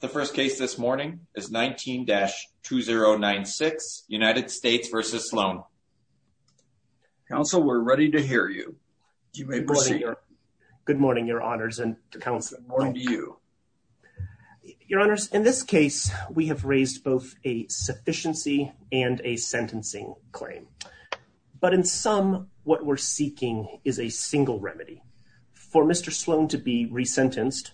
The first case this morning is 19-2096, United States v. Sloan. Counsel, we're ready to hear you. You may proceed. Good morning, your honors and counsel. Good morning to you. Your honors, in this case, we have raised both a sufficiency and a sentencing claim. But in sum, what we're seeking is a single remedy for Mr. Sloan to be resentenced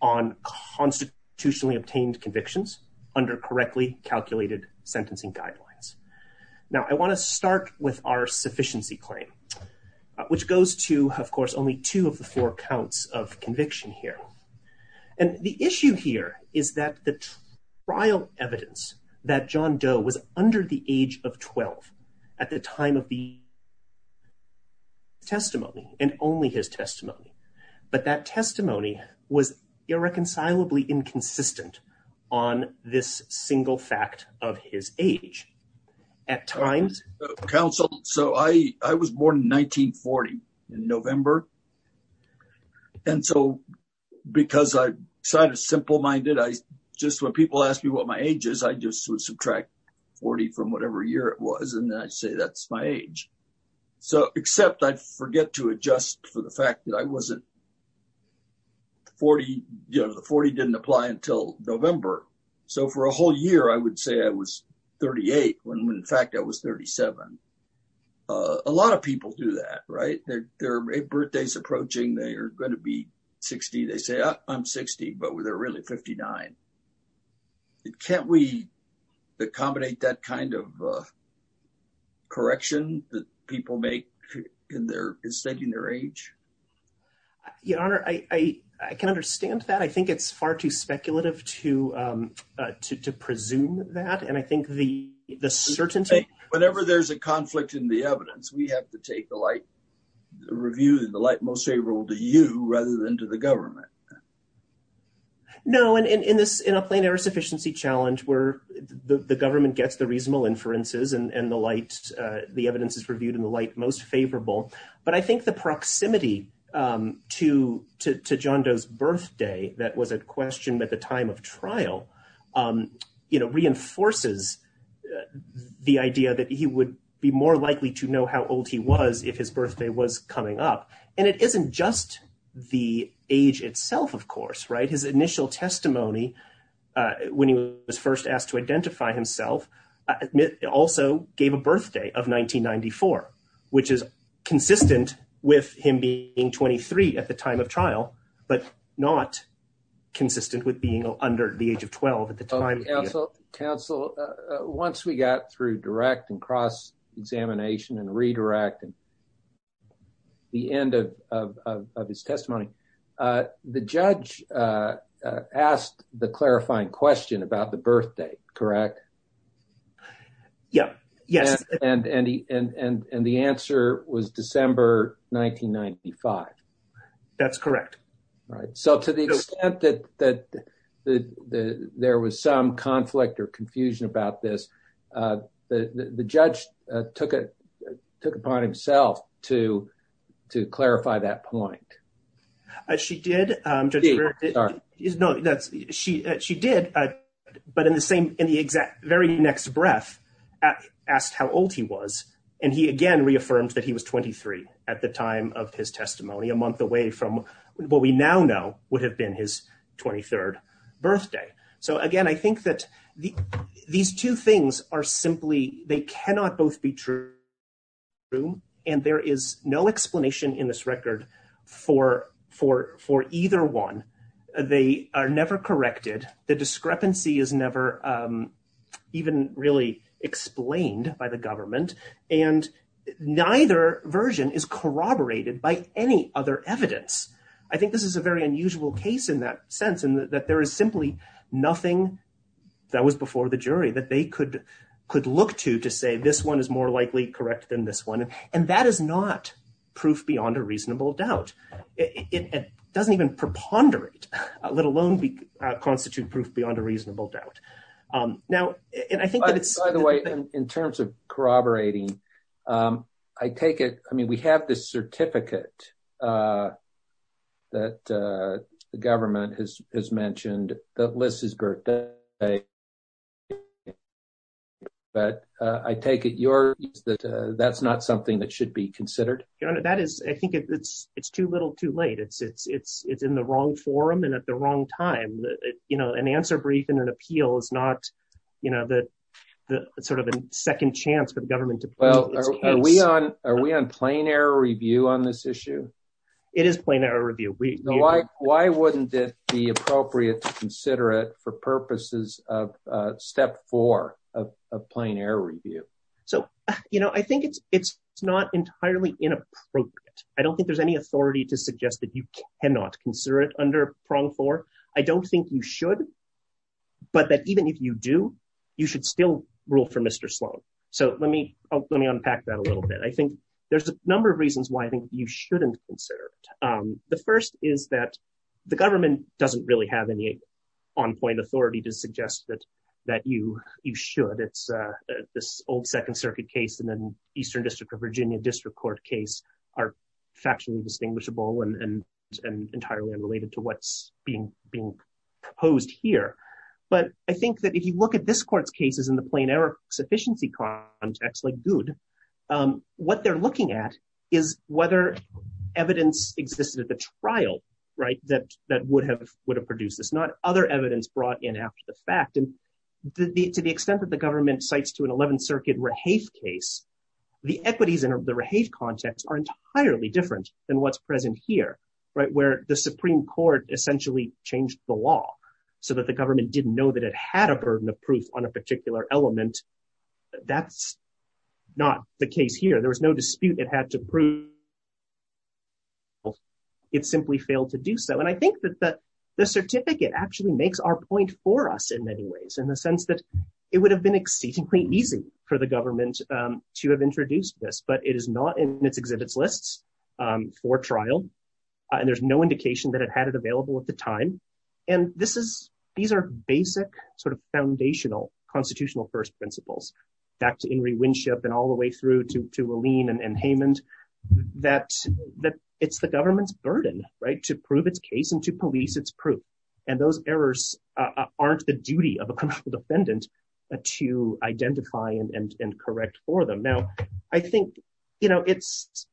on constitutionally obtained convictions under correctly calculated sentencing guidelines. Now, I want to start with our sufficiency claim, which goes to, of course, only two of the four counts of conviction here. And the issue here is that the trial evidence that John Doe was under the age of 12 at the time of the testimony and only his testimony. But that testimony was irreconcilably inconsistent on this single fact of his age at times. Counsel, so I was born in 1940 in November. And so because I'm kind of simple minded, I just when people ask me what my age is, I just subtract 40 from whatever year it was. And I say that's my age. So except I forget to adjust for the fact that I wasn't 40, you know, the 40 didn't apply until November. So for a whole year, I would say I was 38 when in fact I was 37. A lot of people do that, right? Their birthday's approaching. They are going to be 60. They say, I'm 60, but they're really 59. Can't we accommodate that kind of correction that people make in their, in stating their age? Your Honor, I can understand that. I think it's far too speculative to presume that. And I think the certainty. Whenever there's a conflict in the evidence, we have to take the light, the review and the light most favorable to you rather than to the government. No, and in this, in a plain error sufficiency challenge where the government gets the reasonable inferences and the light, the evidence is reviewed in the light most favorable. But I think the proximity to John Doe's birthday that was at question at the time of trial, you know, reinforces the idea that he would be more likely to know how old he was if his birthday was coming up. And it isn't just the age itself, of course, right? His initial testimony when he was first asked to identify himself also gave a birthday of 1994, which is consistent with him being 23 at the time of trial, but not consistent with being under the age of 12 at the time. Counsel, once we got through direct and cross-examination and redirect and the end of his testimony, the judge asked the clarifying question about the birthday, correct? Yeah, yes. And the answer was December 1995. That's correct. Right. So to the extent that there was some conflict or confusion about this, the judge took it, took it upon himself to clarify that point. She did, Judge Brewer, she did, but in the same, in the exact very next breath, asked how old he was. And he, again, reaffirmed that he was 23 at the time of his testimony, a month away from what we now know would have been his 23rd birthday. So, again, I think that these two things are simply, they cannot both be true, and there is no explanation in this record for either one. They are never corrected. The discrepancy is never even really explained by the government. And neither version is corroborated by any other evidence. I think this is a very unusual case in that sense, in that there is simply nothing that was before the jury that they could could look to to say this one is more likely correct than this one. And that is not proof beyond a reasonable doubt. It doesn't even preponderate, let alone constitute proof beyond a reasonable doubt. By the way, in terms of corroborating, I take it, I mean, we have this certificate that the government has mentioned that lists his birthday, but I take it that that's not something that should be considered? That is, I think it's too little too late. It's in the wrong forum and at the wrong time. You know, an answer brief and an appeal is not, you know, the sort of a second chance for the government. Well, are we on are we on plain error review on this issue? It is plain error review. We know why. Why wouldn't it be appropriate to consider it for purposes of step four of plain error review? So, you know, I think it's it's not entirely inappropriate. I don't think there's any authority to suggest that you cannot consider it under prong four. I don't think you should, but that even if you do, you should still rule for Mr. Sloan. So let me let me unpack that a little bit. I think there's a number of reasons why I think you shouldn't consider it. The first is that the government doesn't really have any on point authority to suggest that that you you should. It's this old Second Circuit case. And then Eastern District of Virginia District Court case are factually distinguishable and entirely unrelated to what's being being proposed here. But I think that if you look at this court's cases in the plain error sufficiency context, like good, what they're looking at is whether evidence existed at the trial. Right. That that would have would have produced this, not other evidence brought in after the fact. And to the extent that the government cites to an 11th Circuit case, the equities in the context are entirely different than what's present here. Right. Where the Supreme Court essentially changed the law so that the government didn't know that it had a burden of proof on a particular element. That's not the case here. There was no dispute. It had to prove. Well, it simply failed to do so. And I think that the certificate actually makes our point for us in many ways, in the sense that it would have been exceedingly easy for the government to have introduced this. But it is not in its exhibits lists for trial and there's no indication that it had it available at the time. And this is these are basic sort of foundational constitutional first principles. Back to Ingrid Winship and all the way through to to Aline and Heyman, that that it's the government's burden to prove its case and to police its proof. And those errors aren't the duty of a defendant to identify and correct for them. Now, I think, you know, it's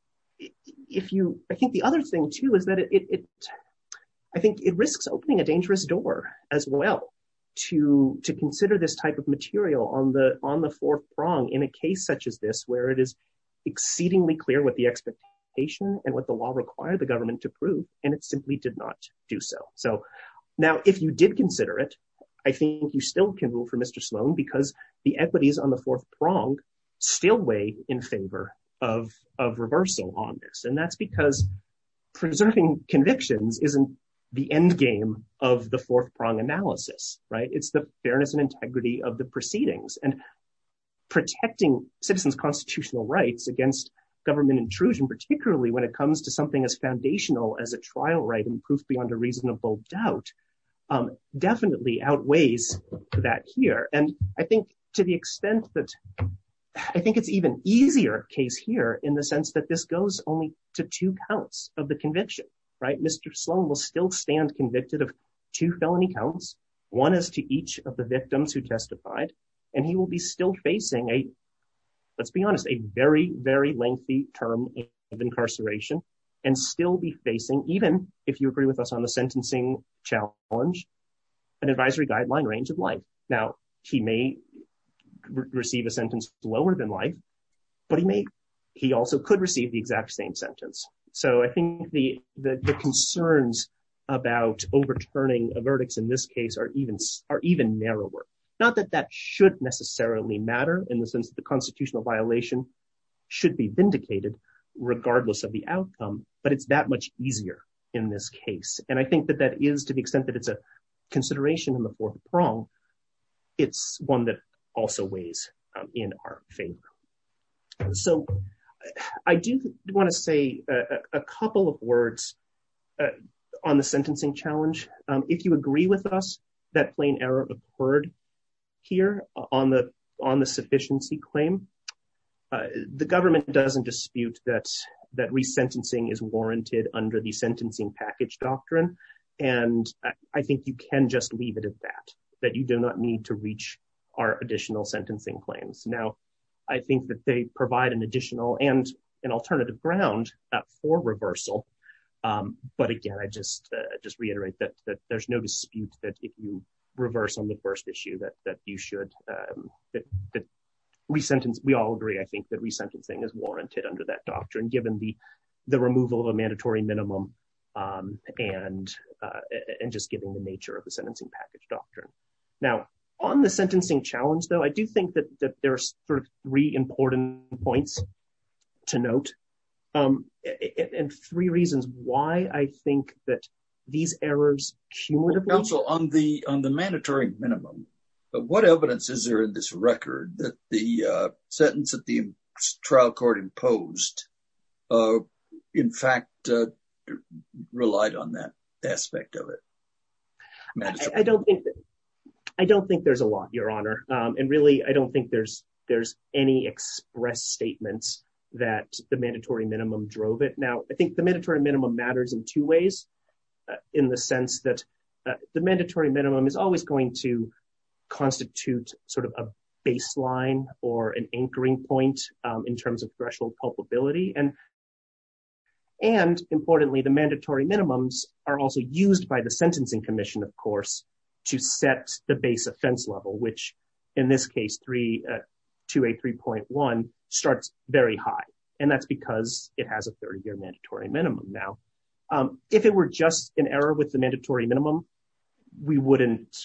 if you I think the other thing, too, is that it I think it risks opening a dangerous door as well to to consider this type of material on the on the fourth prong in a case such as this, where it is exceedingly clear what the expectation and what the law required the government to prove. And it simply did not do so. So now, if you did consider it, I think you still can rule for Mr. Sloan, because the equities on the fourth prong still weigh in favor of of reversal on this. And that's because preserving convictions isn't the end game of the fourth prong analysis. Right. It's the fairness and integrity of the proceedings and protecting citizens constitutional rights against government intrusion, particularly when it comes to something as foundational as a trial. Right. And proof beyond a reasonable doubt definitely outweighs that here. And I think to the extent that I think it's even easier case here in the sense that this goes only to two counts of the conviction. Right. Mr. Sloan will still stand convicted of two felony counts. One is to each of the victims who testified and he will be still facing a let's be honest, a very, very lengthy term of incarceration and still be facing even if you agree with us on the sentencing challenge, an advisory guideline range of life. Now, he may receive a sentence lower than life, but he may he also could receive the exact same sentence. So I think the the concerns about overturning a verdict in this case are even are even narrower. Not that that should necessarily matter in the sense that the constitutional violation should be vindicated regardless of the outcome. But it's that much easier in this case. And I think that that is to the extent that it's a consideration in the fourth prong. It's one that also weighs in our favor. So I do want to say a couple of words on the sentencing challenge. If you agree with us that plain error occurred here on the on the sufficiency claim, the government doesn't dispute that that resentencing is warranted under the sentencing package doctrine. And I think you can just leave it at that, that you do not need to reach our additional sentencing claims. Now, I think that they provide an additional and an alternative ground for reversal. But again, I just just reiterate that there's no dispute that if you reverse on the first issue, that that you should resentence. We all agree, I think, that resentencing is warranted under that doctrine, given the the removal of a mandatory minimum and and just given the nature of the sentencing package doctrine. Now, on the sentencing challenge, though, I do think that there are three important points to note and three reasons why I think that these errors cumulative counsel on the on the mandatory minimum. But what evidence is there in this record that the sentence that the trial court imposed in fact relied on that aspect of it? I don't think I don't think there's a lot, Your Honor. And really, I don't think there's there's any express statements that the mandatory minimum drove it. Now, I think the mandatory minimum matters in two ways, in the sense that the mandatory minimum is always going to constitute sort of a baseline or an anchoring point in terms of threshold culpability and. And importantly, the mandatory minimums are also used by the sentencing commission, of course, to set the base offense level, which in this case, three to a three point one starts very high. And that's because it has a 30 year mandatory minimum. Now, if it were just an error with the mandatory minimum, we wouldn't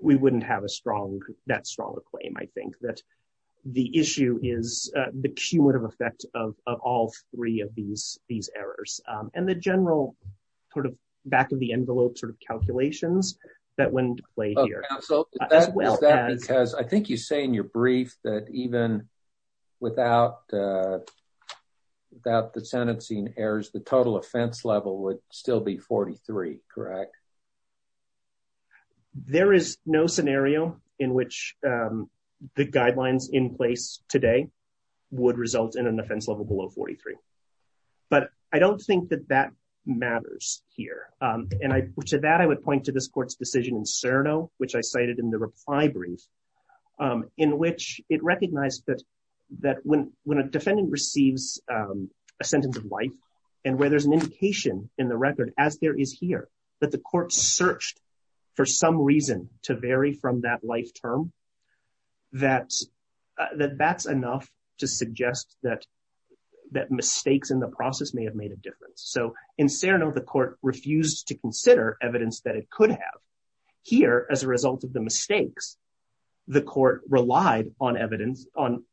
we wouldn't have a strong that strong a claim, I think that the issue is the cumulative effect of all three of these these errors and the general sort of back of the envelope sort of calculations that went to play here. So that's well, because I think you say in your brief that even without the that the sentencing errors, the total offense level would still be forty three. Correct. There is no scenario in which the guidelines in place today would result in an offense level below forty three. But I don't think that that matters here. And I said that I would point to this court's decision in Cerno, which I cited in the reply brief in which it recognized that that when when a defendant receives a sentence of life and where there's an indication in the record, as there is here, that the court searched for some reason to vary from that life term. That that that's enough to suggest that that mistakes in the process may have made a difference. So in Cerno, the court refused to consider evidence that it could have here. As a result of the mistakes, the court relied on evidence on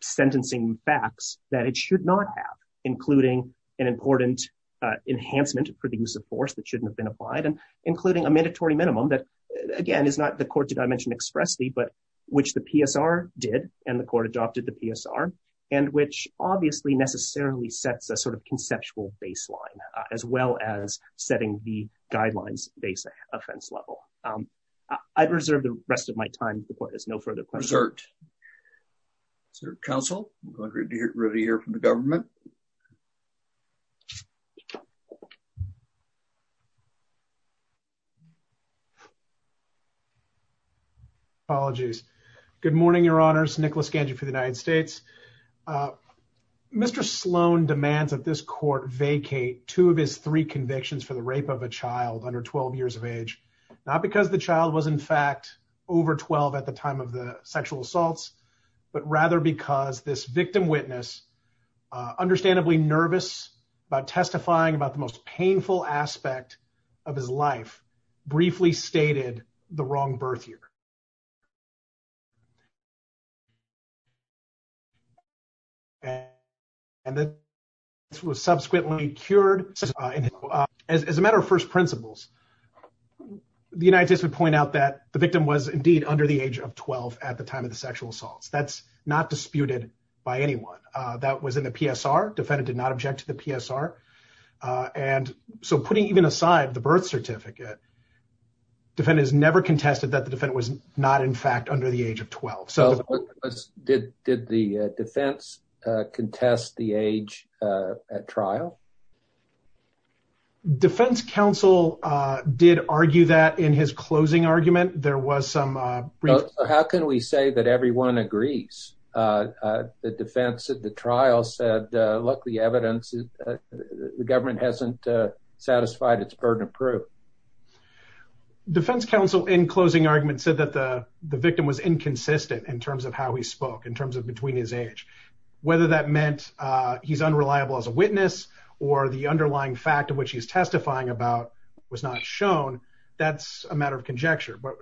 sentencing facts that it should not have, including an important enhancement for the use of force that shouldn't have been applied and including a mandatory minimum that, again, is not the court dimension expressly, but which the PSR did and the court adopted the PSR and which obviously necessarily sets a sort of conceptual baseline as well as setting the guidelines. 어렵 theCoulder of not unique to the machine based other than theter. reference level. I've reserved the rest of my time. The court has no further concert. So Council Madriends already here from the government. Apologies Good morning. Your Honor's Nikolas Banyou for the United States. Mr. Sloan demands that this court vacate two of his three convictions for the rape of a child under 12 years of age, not because the child was, in fact, over 12 at the time of the sexual assaults, but rather because this victim witness, understandably nervous about testifying about the most painful aspect of his life, briefly stated the wrong birth year. And and this was subsequently cured as a matter of first principles, the United States would point out that the victim was indeed under the age of 12 at the time of the sexual assaults. That's not disputed by anyone that was in the PSR. Defendant did not object to the PSR. And so putting even aside the birth certificate. Defendants never contested that the defendant was not, in fact, under the age of 12. So did the defense contest the age at trial? Defense counsel did argue that in his closing argument, there was some. How can we say that everyone agrees the defense at the trial said, look, the evidence, the government hasn't satisfied its burden of proof. Defense counsel in closing argument said that the victim was inconsistent in terms of how he spoke, in terms of between his age, whether that meant he's unreliable as a witness or the underlying fact of which he's testifying about was not shown. That's a matter of conjecture. But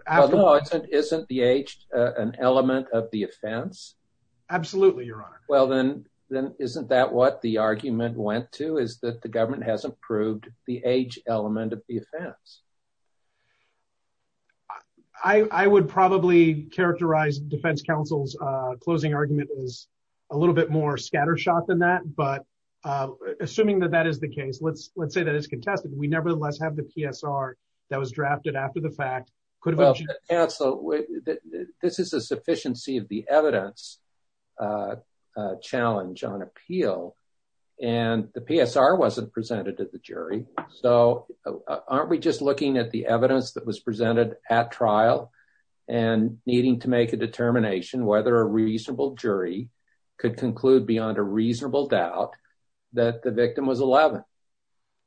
isn't the age an element of the offense? Absolutely. Your honor. Well, then then isn't that what the argument went to is that the government hasn't proved the age element of the offense? I would probably characterize defense counsel's closing argument is a little bit more scattershot than that. But assuming that that is the case, let's let's say that it's contested. We nevertheless have the PSR that was drafted after the fact. Could have been so. This is a sufficiency of the evidence a challenge on appeal and the PSR wasn't presented to the jury. So aren't we just looking at the evidence that was presented at trial and needing to make a determination whether a reasonable jury could conclude beyond a reasonable doubt that the victim was 11?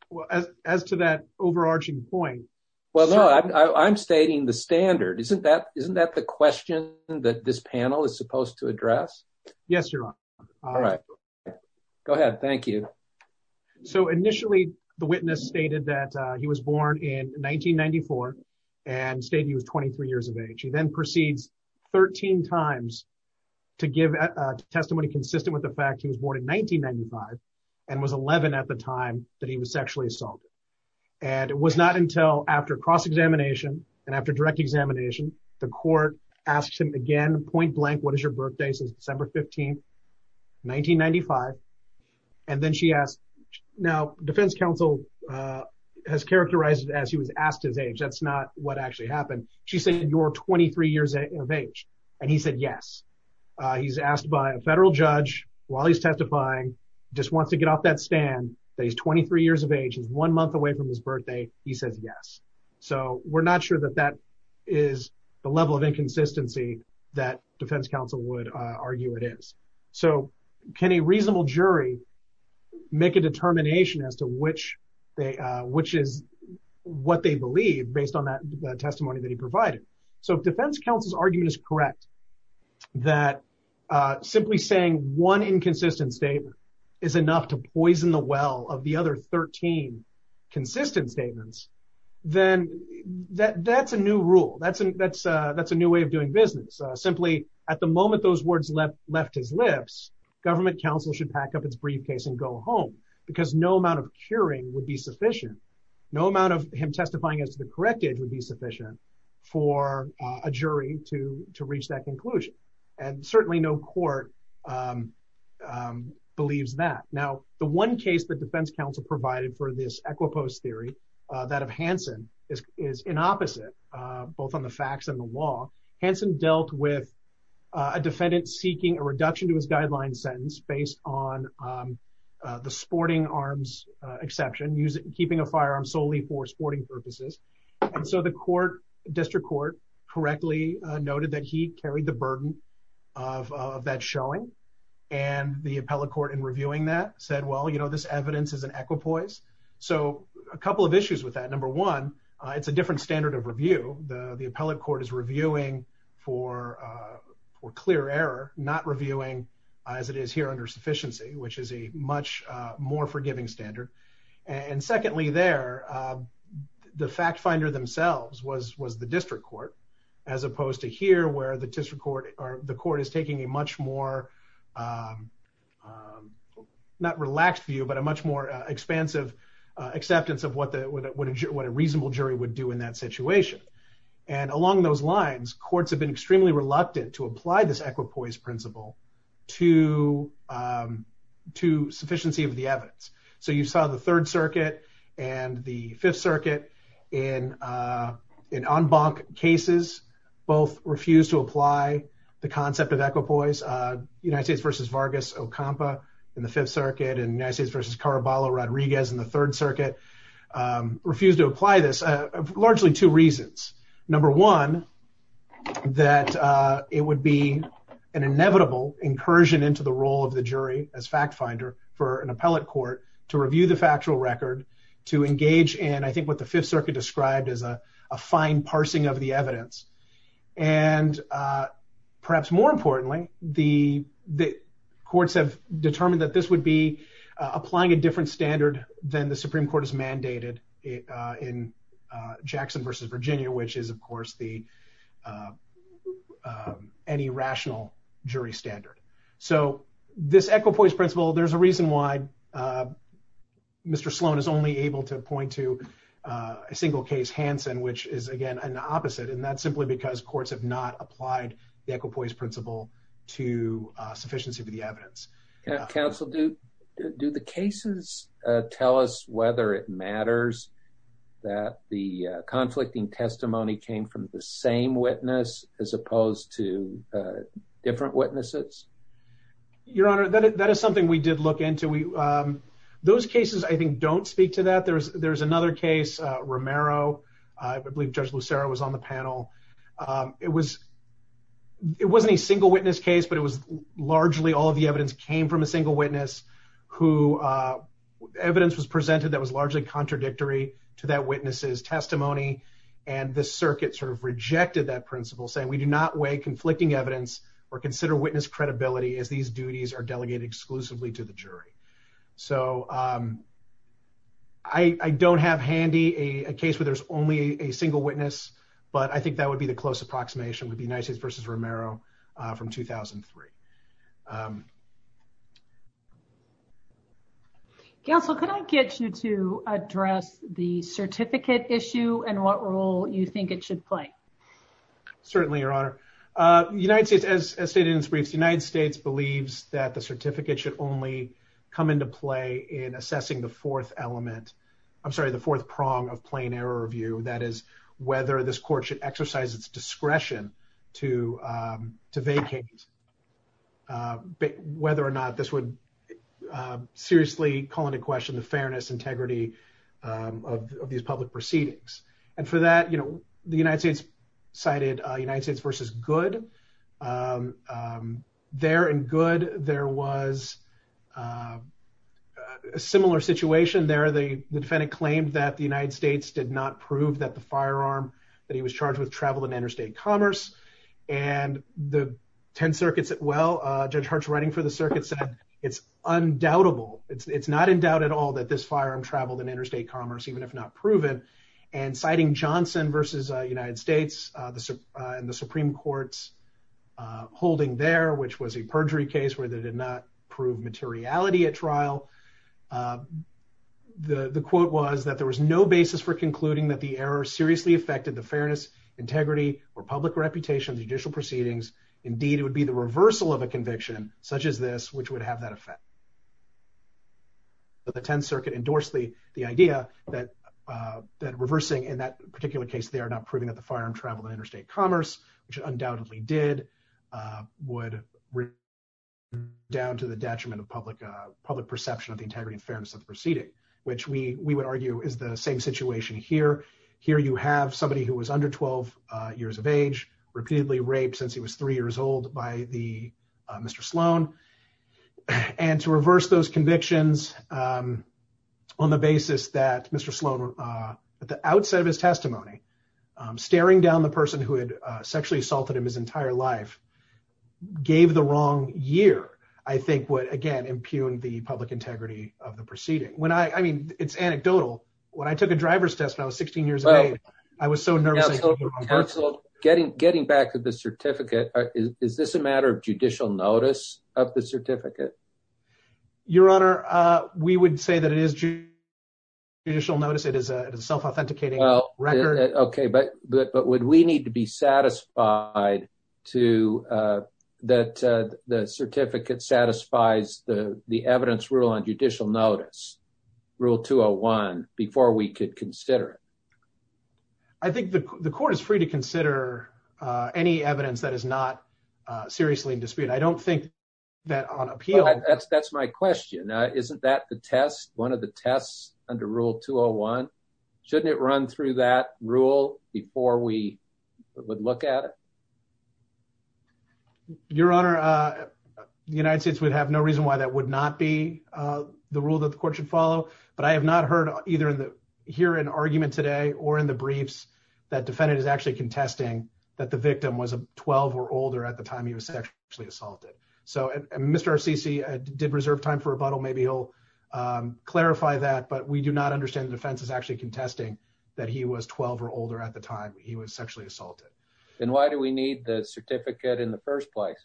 Well, as to that overarching point, well, I'm stating the standard. Isn't that isn't that the question that this panel is supposed to address? Yes, your honor. All right. Go ahead. Thank you. So initially, the witness stated that he was born in 1994 and stated he was 23 years of age. He then proceeds 13 times to give testimony consistent with the fact he was born in 1995 and was 11 at the time that he was sexually assaulted. And it was not until after cross examination and after direct examination, the court asked him again, point blank. What is your birthday since December 15th, 1995? And then she asked. Now, defense counsel has characterized it as he was asked his age. That's not what actually happened. She said, you're 23 years of age. And he said, yes, he's asked by a federal judge while he's testifying, just wants to get off that stand that he's 23 years of age. He's one month away from his birthday. He says yes. So we're not sure that that is the level of inconsistency that defense counsel would argue it is. So can a reasonable jury make a determination as to which which is what they believe based on that testimony that he provided? So defense counsel's argument is correct that simply saying one inconsistent statement is enough to poison the well of the other 13 consistent statements, then that's a new rule. That's that's that's a new way of doing business. Simply at the moment those words left his lips. Government counsel should pack up its briefcase and go home because no amount of curing would be sufficient. No amount of him testifying as to the correct age would be sufficient for a jury to to reach that conclusion, and certainly no court believes that. Now, the one case that defense counsel provided for this equiposte theory, that of Hansen, is is an opposite, both on the facts and the law. Hansen dealt with a defendant seeking a reduction to his guideline sentence based on the sporting arms exception, keeping a firearm solely for sporting purposes. And so the court district court correctly noted that he carried the burden of that showing. And the appellate court in reviewing that said, well, you know, this evidence is an equipoise. So a couple of issues with that, number one, it's a different standard of review. The appellate court is reviewing for for clear error, not reviewing as it is here under sufficiency, which is a much more forgiving standard. And secondly, there the fact finder themselves was was the district court, as opposed to here, where the district court or the court is taking a much more not relaxed view, but a much more expansive acceptance of what the what a reasonable jury would do in that situation. And along those lines, courts have been extremely reluctant to apply this equipoise principle to to sufficiency of the evidence. So you saw the Third Circuit and the Fifth Circuit in in en banc cases, both refused to apply the concept of equipoise. United States versus Vargas Ocampo in the Fifth Circuit and United States versus Caraballo Rodriguez in the Third Circuit refused to apply this. Largely two reasons. Number one, that it would be an inevitable incursion into the role of the jury as fact finder for an appellate court to review the factual record, to engage in, I think, what the Fifth Circuit described as a fine parsing of the evidence. And perhaps more importantly, the the courts have determined that this would be applying a different standard than the Supreme Court has mandated in Jackson versus Virginia, which is, of course, the any rational jury standard. So this equipoise principle, there's a reason why Mr. Sloan is only able to point to a single case, Hansen, which is, again, an opposite. And that's simply because courts have not applied the equipoise principle to sufficiency of the evidence. Counsel, do do the cases tell us whether it matters that the conflicting testimony came from the same witness as opposed to different witnesses? Your Honor, that is something we did look into. We those cases, I think, don't speak to that. There's there's another case, Romero, I believe Judge Lucero was on the panel. It was it wasn't a single witness case, but it was largely all of the evidence came from a single witness who evidence was presented that was largely contradictory to that witness's testimony. And the circuit sort of rejected that principle, saying we do not weigh conflicting evidence or consider witness credibility as these duties are delegated exclusively to the jury. So. I don't have handy a case where there's only a single witness, but I think that would be the close approximation would be nice versus Romero from 2003. Counsel, could I get you to address the Certainly, Your Honor, United States, as stated in its briefs, the United States believes that the certificate should only come into play in assessing the fourth element, I'm sorry, the fourth prong of plain error review, that is, whether this court should exercise its discretion to to vacate. Whether or not this would seriously call into question the fairness, integrity of these public proceedings. And for that, you know, the United States cited United States versus good there and good. There was a similar situation there. The defendant claimed that the United States did not prove that the firearm that he was charged with traveled in interstate commerce and the 10 circuits. Well, Judge Hart's writing for the circuit said it's undoubtable. It's not in doubt at all that this firearm traveled in interstate commerce, even if not proven. And citing Johnson versus United States, the Supreme Court's holding there, which was a perjury case where they did not prove materiality at trial, the quote was that there was no basis for concluding that the error seriously affected the fairness, integrity or public reputation of judicial proceedings. Indeed, it would be the reversal of a conviction such as this, which would have that effect. But the 10th Circuit endorsed the idea that that reversing in that particular case, they are not proving that the firearm traveled in interstate commerce, which undoubtedly did would down to the detriment of public public perception of the integrity and fairness of the proceeding, which we would argue is the same situation here. Here you have somebody who was under 12 years of age, repeatedly raped since he was three years old by the Mr. Sloan and to reverse those convictions on the basis that Mr. Sloan, at the outset of his testimony, staring down the person who had sexually assaulted him his entire life, gave the wrong year, I think would, again, impugn the public integrity of the proceeding when I I mean, it's anecdotal. When I took a driver's test, I was 16 years old. I was so nervous. So getting getting back to the certificate, is this a matter of judicial notice of the certificate? Your Honor, we would say that it is judicial notice. It is a self-authenticating record. OK, but but would we need to be satisfied to that? The certificate satisfies the evidence rule on judicial notice, Rule 201, before we could consider it. I think the court is free to consider any evidence that is not seriously in dispute. I don't think that on appeal, that's that's my question. Isn't that the test, one of the tests under Rule 201? Shouldn't it run through that rule before we would look at it? Your Honor, the United States would have no reason why that would not be the rule that the court should follow, but I have not heard either in the here and argument today or in the briefs that defendant is actually contesting that the victim was 12 or older at the time he was sexually assaulted. So Mr. Arsici did reserve time for rebuttal. Maybe he'll clarify that. But we do not understand the defense is actually contesting that he was 12 or older at the time he was sexually assaulted. And why do we need the certificate in the first place?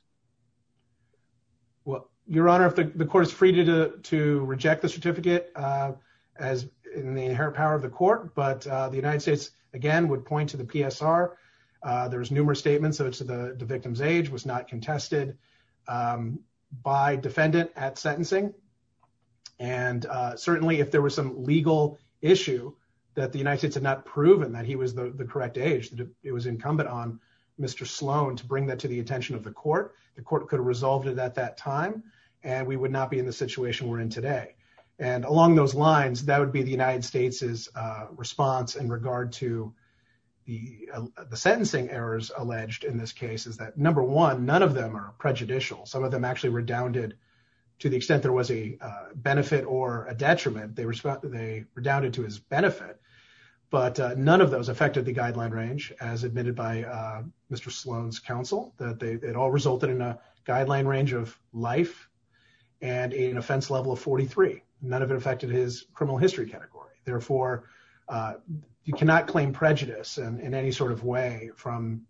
Well, Your Honor, if the court is free to to reject the certificate as in the inherent power of the court. But the United States, again, would point to the PSR. There's numerous statements of the victim's age was not contested by defendant at sentencing. And certainly if there was some legal issue that the United States had not proven that he was the correct age, that it was incumbent on Mr. Sloan to bring that to the attention of the court, the court could have resolved it at that time and we would not be in the situation we're in today. And along those lines, that would be the United States's response in regard to the the sentencing errors alleged in this case is that, number one, none of them are prejudicial. Some of them actually redounded to the extent there was a benefit or a detriment. They were they redounded to his benefit. But none of those affected the guideline range, as admitted by Mr. Sloan's counsel, that it all resulted in a guideline range of life and an offense level of 43. None of it affected his criminal history category. Therefore, you cannot claim prejudice in any sort of way from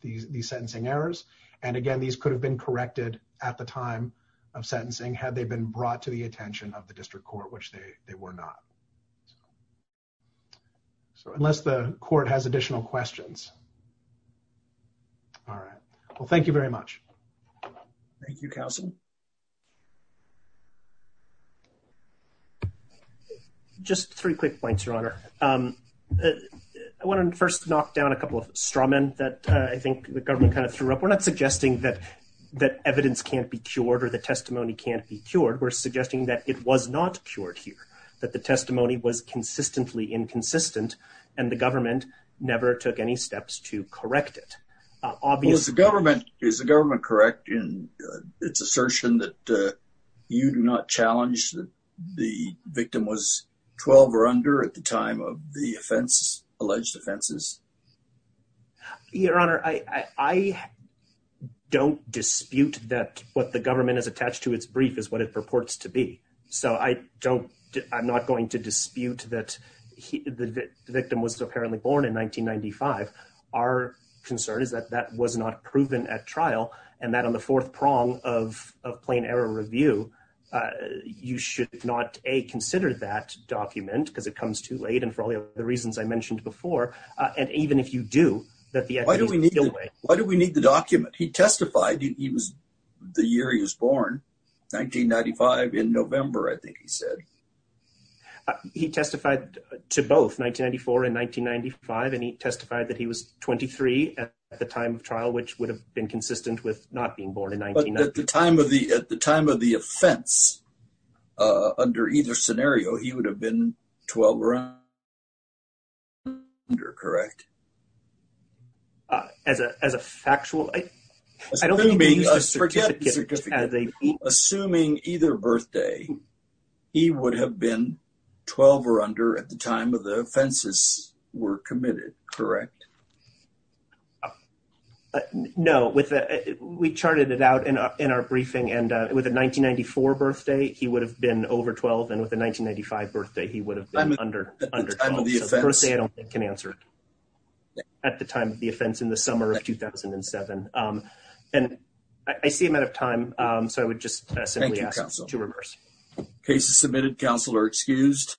these sentencing errors. And again, these could have been corrected at the time of sentencing had they been brought to the attention of the district court, which they were not. So unless the court has additional questions. All right, well, thank you very much. Thank you, counsel. Just three quick points, Your Honor, I want to first knock down a couple of straw men that I think the government kind of threw up, we're not suggesting that that evidence can't be cured or the testimony can't be cured, we're suggesting that it was not cured here, that the testimony was consistently inconsistent and the government never took any steps to correct it. Is the government correct in its assertion that you do not challenge the victim was 12 or under at the time of the offense, alleged offenses? Your Honor, I don't dispute that what the government has attached to its brief is what it purports to be, so I don't I'm not going to dispute that the victim was apparently born in 1995. Our concern is that that was not proven at trial and that on the fourth prong of of plain error review, you should not a consider that document because it comes too late. And for all the reasons I mentioned before, and even if you do that, why do we need why do we need the document? He testified he was the year he was born, 1995 in November, I think he said. He testified to both 1994 and 1995, and he testified that he was 23 at the time of trial, which would have been consistent with not being born in 19. At the time of the at the time of the offense under either scenario, he would have been 12. You're correct. As a as a factual, I don't mean a certificate as a assuming either birthday, he would have been 12 or under at the time of the offenses were committed. Correct. No, with we charted it out in our briefing and with a 1994 birthday, he would have been over 12 and with a 1995 birthday, he would have been under under the first thing I can answer. At the time of the offense in the summer of 2007, and I see him out of time, so I would just say to reverse cases submitted, counselor excused.